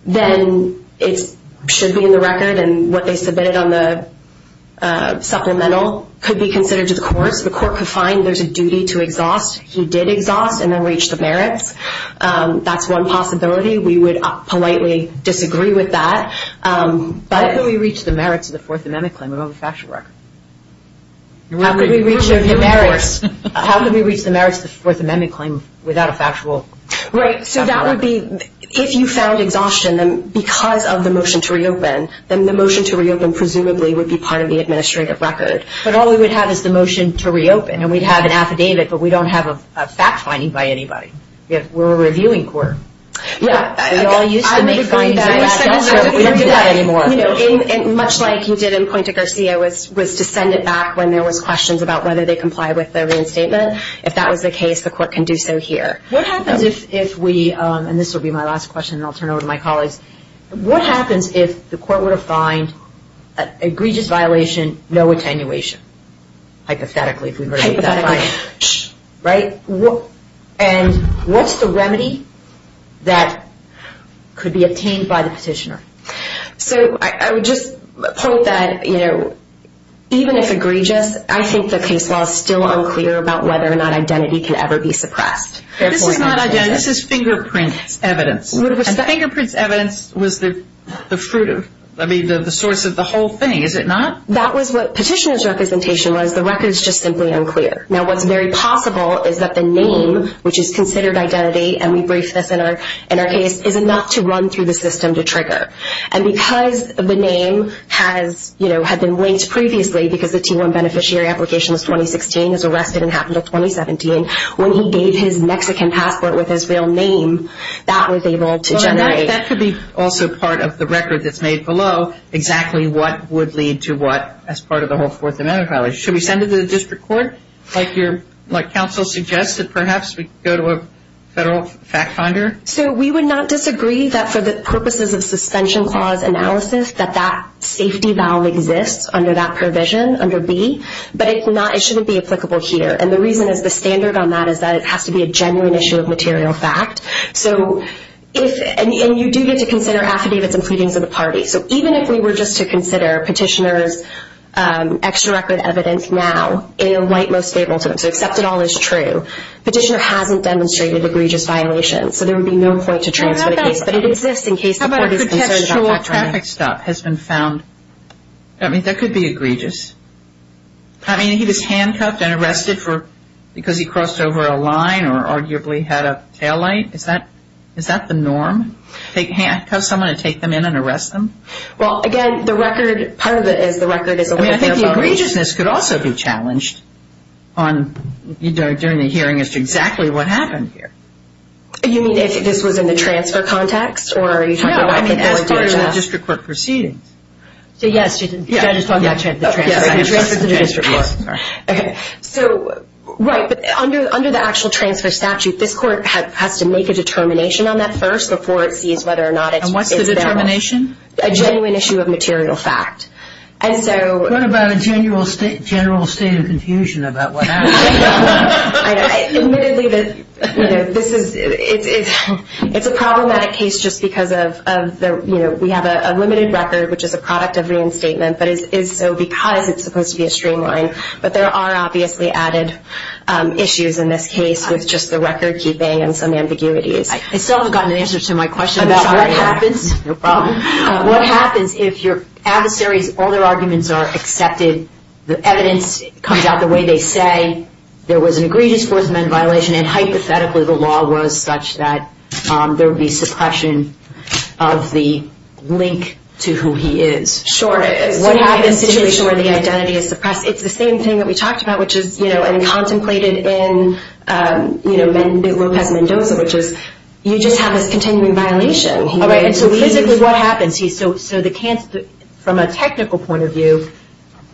then it should be in the record. And what they submitted on the supplemental could be considered to the courts. The court could find there's a duty to exhaust. He did exhaust and then reach the merits. That's one possibility. We would politely disagree with that. How could we reach the merits of the Fourth Amendment claim without a factual record? How could we reach the merits? How could we reach the merits of the Fourth Amendment claim without a factual record? Right. So that would be if you found exhaustion because of the motion to reopen, then the motion to reopen presumably would be part of the administrative record. But all we would have is the motion to reopen. And we'd have an affidavit, but we don't have a fact finding by anybody. We're a reviewing court. Yeah. We all used to make findings. We don't do that anymore. Much like you did in Puente Garcia was to send it back when there was questions about whether they complied with the reinstatement. If that was the case, the court can do so here. What happens if we – and this will be my last question, and I'll turn it over to my colleagues. What happens if the court were to find an egregious violation, no attenuation, hypothetically if we were to do that. Hypothetically. Right? And what's the remedy that could be obtained by the petitioner? So I would just point that, you know, even if egregious, I think the case law is still unclear about whether or not identity can ever be suppressed. This is not identity. This is fingerprint evidence. And fingerprint evidence was the fruit of – I mean, the source of the whole thing, is it not? That was what petitioner's representation was. The record is just simply unclear. Now, what's very possible is that the name, which is considered identity, and we briefed this in our case, is enough to run through the system to trigger. And because the name has, you know, had been linked previously, because the T1 beneficiary application was 2016, was arrested and happened in 2017, when he gave his Mexican passport with his real name, that was able to generate. That could be also part of the record that's made below exactly what would lead to what, as part of the whole Fourth Amendment violation. Should we send it to the district court, like counsel suggested? Perhaps we could go to a federal fact finder? So we would not disagree that for the purposes of suspension clause analysis, that that safety valve exists under that provision, under B. But it shouldn't be applicable here. And the reason is the standard on that is that it has to be a genuine issue of material fact. So if, and you do get to consider affidavits and pleadings of the party. So even if we were just to consider petitioner's extra record evidence now, in a white most stable term, so accept it all as true, petitioner hasn't demonstrated egregious violations. So there would be no point to transfer the case. But it exists in case the court is concerned about that. How about a contextual traffic stop has been found? I mean, that could be egregious. Or arguably had a taillight. Is that the norm? Take someone and take them in and arrest them? Well, again, the record, part of it is the record is. I mean, I think the egregiousness could also be challenged on, during the hearing as to exactly what happened here. You mean if this was in the transfer context? Or are you talking about. No, I mean, as part of the district court proceedings. So, yes. Did I just talk about the transfer? Yes. Okay. So, right. But under the actual transfer statute, this court has to make a determination on that first, before it sees whether or not it's. And what's the determination? A genuine issue of material fact. And so. What about a general state of confusion about what happened? Admittedly, this is, it's a problematic case just because of, you know, we have a limited record, which is a product of reinstatement, but is so because it's supposed to be a streamline. But there are obviously added issues in this case with just the record keeping and some ambiguities. I still haven't gotten an answer to my question. About what happens. No problem. What happens if your adversaries, all their arguments are accepted, the evidence comes out the way they say, there was an egregious force amendment violation, and hypothetically the law was such that there would be suppression of the link to who he is. Sure. What happens in a situation where the identity is suppressed? It's the same thing that we talked about, which is, you know, and contemplated in, you know, Lopez Mendoza, which is you just have this continuing violation. All right. And so physically what happens? So the, from a technical point of view,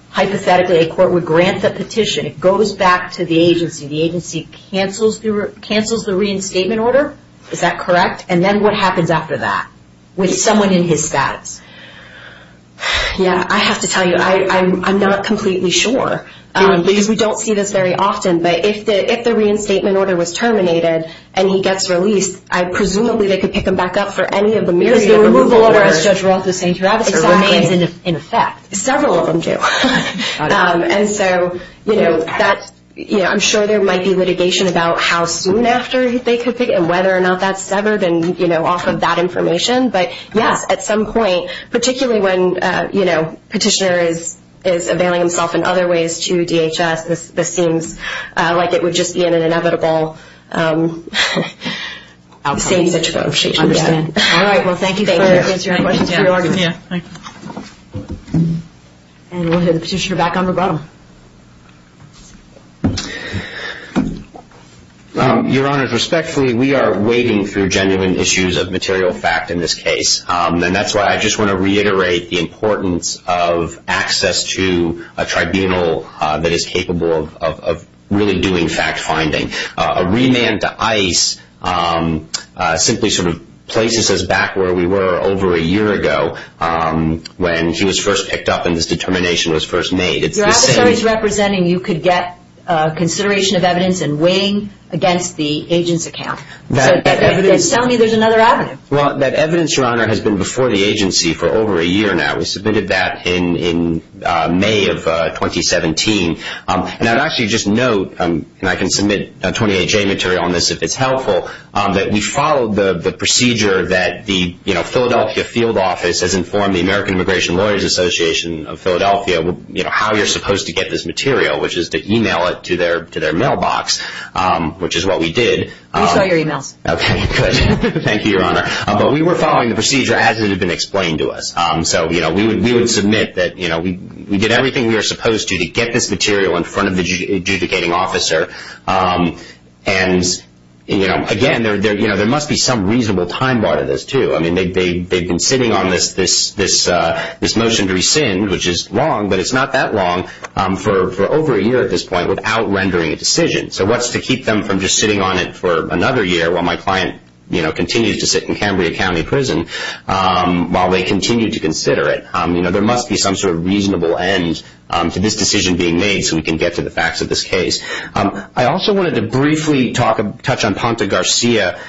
hypothetically a court would grant the petition. It goes back to the agency. The agency cancels the reinstatement order. Is that correct? And then what happens after that? With someone in his status. Yeah, I have to tell you, I'm not completely sure. Because we don't see this very often. But if the reinstatement order was terminated and he gets released, presumably they could pick him back up for any of the myriad of removal orders. As Judge Roth was saying, Travis remains in effect. Several of them do. And so, you know, that's, you know, I'm sure there might be litigation about how soon after they could pick him, whether or not that's severed and, you know, off of that information. But, yes, at some point, particularly when, you know, petitioner is availing himself in other ways to DHS, this seems like it would just be in an inevitable state situation. I understand. All right. Well, thank you. Thank you. And we'll have the petitioner back on the bottom. Your Honors, respectfully, we are wading through genuine issues of material fact in this case. And that's why I just want to reiterate the importance of access to a tribunal that is capable of really doing fact finding. A remand to ICE simply sort of places us back where we were over a year ago when he was first picked up and this determination was first made. Your adversary is representing you could get consideration of evidence and weighing against the agent's account. They're telling me there's another avenue. Well, that evidence, Your Honor, has been before the agency for over a year now. We submitted that in May of 2017. And I'd actually just note, and I can submit 28-J material on this if it's helpful, that we followed the procedure that the, you know, Philadelphia field office has informed the American Immigration Lawyers Association of Philadelphia, you know, how you're supposed to get this which is what we did. We saw your emails. Okay, good. Thank you, Your Honor. But we were following the procedure as it had been explained to us. So, you know, we would submit that, you know, we did everything we were supposed to to get this material in front of the adjudicating officer. And, you know, again, there must be some reasonable time bar to this, too. I mean, they've been sitting on this motion to rescind, which is wrong, but it's not that long for over a year at this point without rendering a matter of what's to keep them from just sitting on it for another year while my client, you know, continues to sit in Cambria County Prison while they continue to consider it. You know, there must be some sort of reasonable end to this decision being made so we can get to the facts of this case. I also wanted to briefly touch on Ponta Garcia.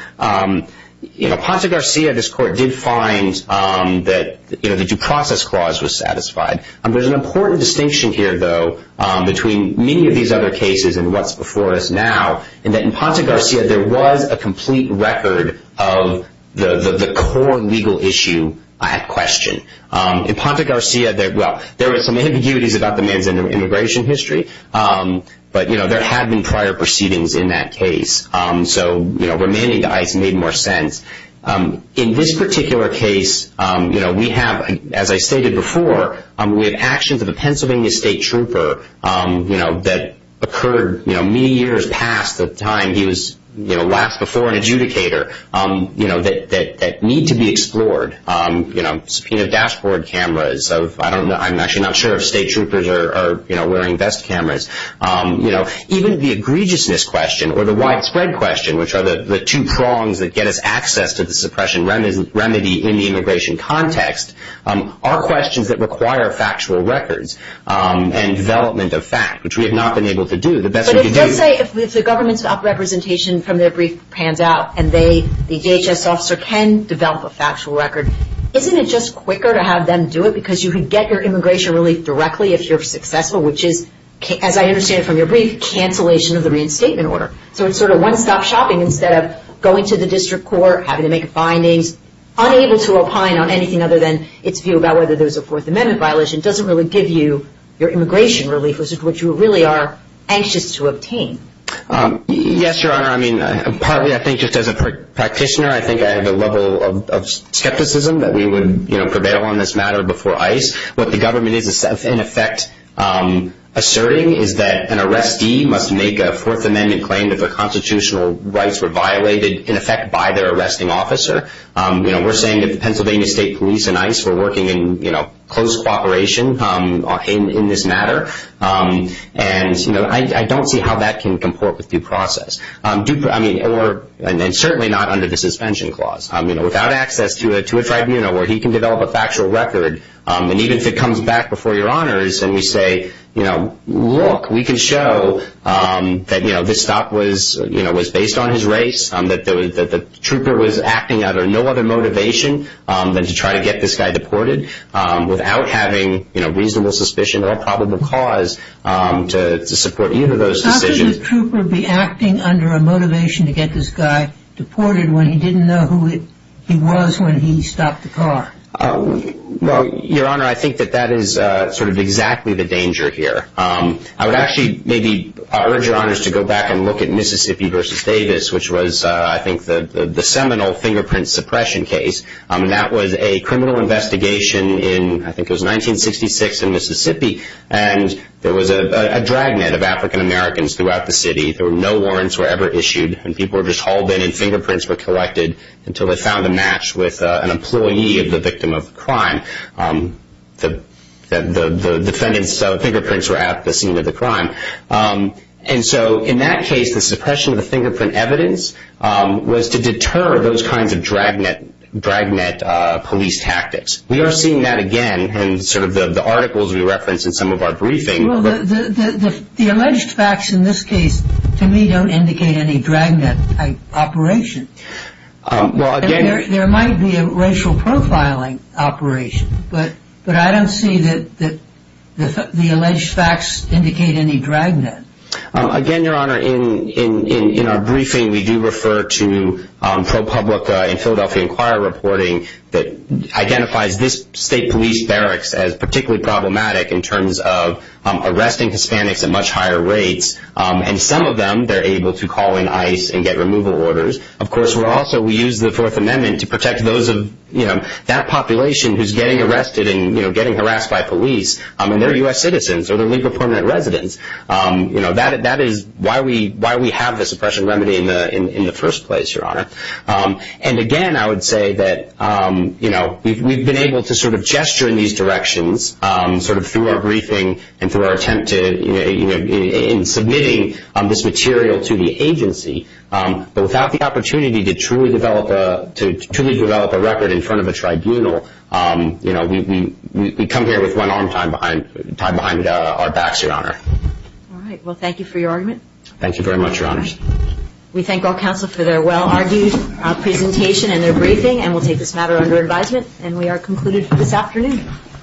You know, Ponta Garcia, this court did find that, you know, the due process clause was satisfied. There's an important distinction here, though, between many of these other cases and what's before us now, in that in Ponta Garcia there was a complete record of the core legal issue at question. In Ponta Garcia, well, there were some ambiguities about the man's immigration history, but, you know, there had been prior proceedings in that case. So, you know, remaining to ICE made more sense. In this particular case, you know, we have, as I stated before, we have actions of a Pennsylvania state trooper, you know, that occurred, you know, many years past the time he was, you know, last before an adjudicator, you know, that need to be explored. You know, subpoenaed dashboard cameras of, I don't know, I'm actually not sure if state troopers are, you know, wearing vest cameras. You know, even the egregiousness question or the widespread question, which are the two prongs that get us access to the suppression remedy in the immigration context are questions that require factual records and development of fact, which we have not been able to do. But let's say if the government's representation from their brief pans out and they, the DHS officer, can develop a factual record, isn't it just quicker to have them do it because you could get your immigration relief directly if you're successful, which is, as I understand it from your brief, cancellation of the reinstatement order. So it's sort of one-stop shopping instead of going to the district court, having to make findings, unable to opine on anything other than its view about whether there's a Fourth Amendment violation doesn't really give you your immigration relief, which is what you really are anxious to obtain. Yes, Your Honor. I mean, partly I think just as a practitioner, I think I have a level of skepticism that we would, you know, prevail on this matter before ICE. What the government is, in effect, asserting is that an arrestee must make a Fourth Amendment claim that the arresting officer, you know, we're saying that the Pennsylvania State Police and ICE were working in, you know, close cooperation in this matter. And, you know, I don't see how that can comport with due process. I mean, or, and certainly not under the suspension clause, you know, without access to a tribunal where he can develop a factual record, and even if it comes back before Your Honors and we say, you know, look, we can show that, you know, this stop was, you know, was based on his race, that the trooper was acting under no other motivation than to try to get this guy deported without having, you know, reasonable suspicion or probable cause to support either of those decisions. How could the trooper be acting under a motivation to get this guy deported when he didn't know who he was when he stopped the car? Well, Your Honor, I think that that is sort of exactly the danger here. I would actually maybe urge Your Honors to go back and look at Mississippi v. Davis, which was I think the seminal fingerprint suppression case, and that was a criminal investigation in, I think it was 1966 in Mississippi, and there was a dragnet of African Americans throughout the city. There were no warrants were ever issued, and people were just hauled in and fingerprints were collected until they found a match with an employee of the victim of crime. The defendant's fingerprints were at the scene of the crime, and so in that case the suppression of the fingerprint evidence was to deter those kinds of dragnet police tactics. We are seeing that again in sort of the articles we reference in some of our briefing. Well, the alleged facts in this case to me don't indicate any dragnet type operation. There might be a racial profiling operation, but I don't see that the alleged facts indicate any dragnet. Again, Your Honor, in our briefing we do refer to pro publica in Philadelphia Inquirer reporting that identifies this state police barracks as particularly problematic in terms of arresting Hispanics at much higher rates, and some of them they're able to call in ICE and get removal orders. Of course, we also use the Fourth Amendment to protect those of that population who's getting arrested and getting harassed by police, and they're U.S. citizens or they're legal permanent residents. That is why we have the suppression remedy in the first place, Your Honor. And again, I would say that we've been able to sort of gesture in these directions sort of through our briefing and through our attempt in submitting this material to the agency, but without the opportunity to truly develop a record in front of a tribunal, we come here with one arm tied behind our backs, Your Honor. All right. Well, thank you for your argument. Thank you very much, Your Honors. We thank all counsel for their well-argued presentation and their briefing, and we'll take this matter under advisement, and we are concluded for this afternoon.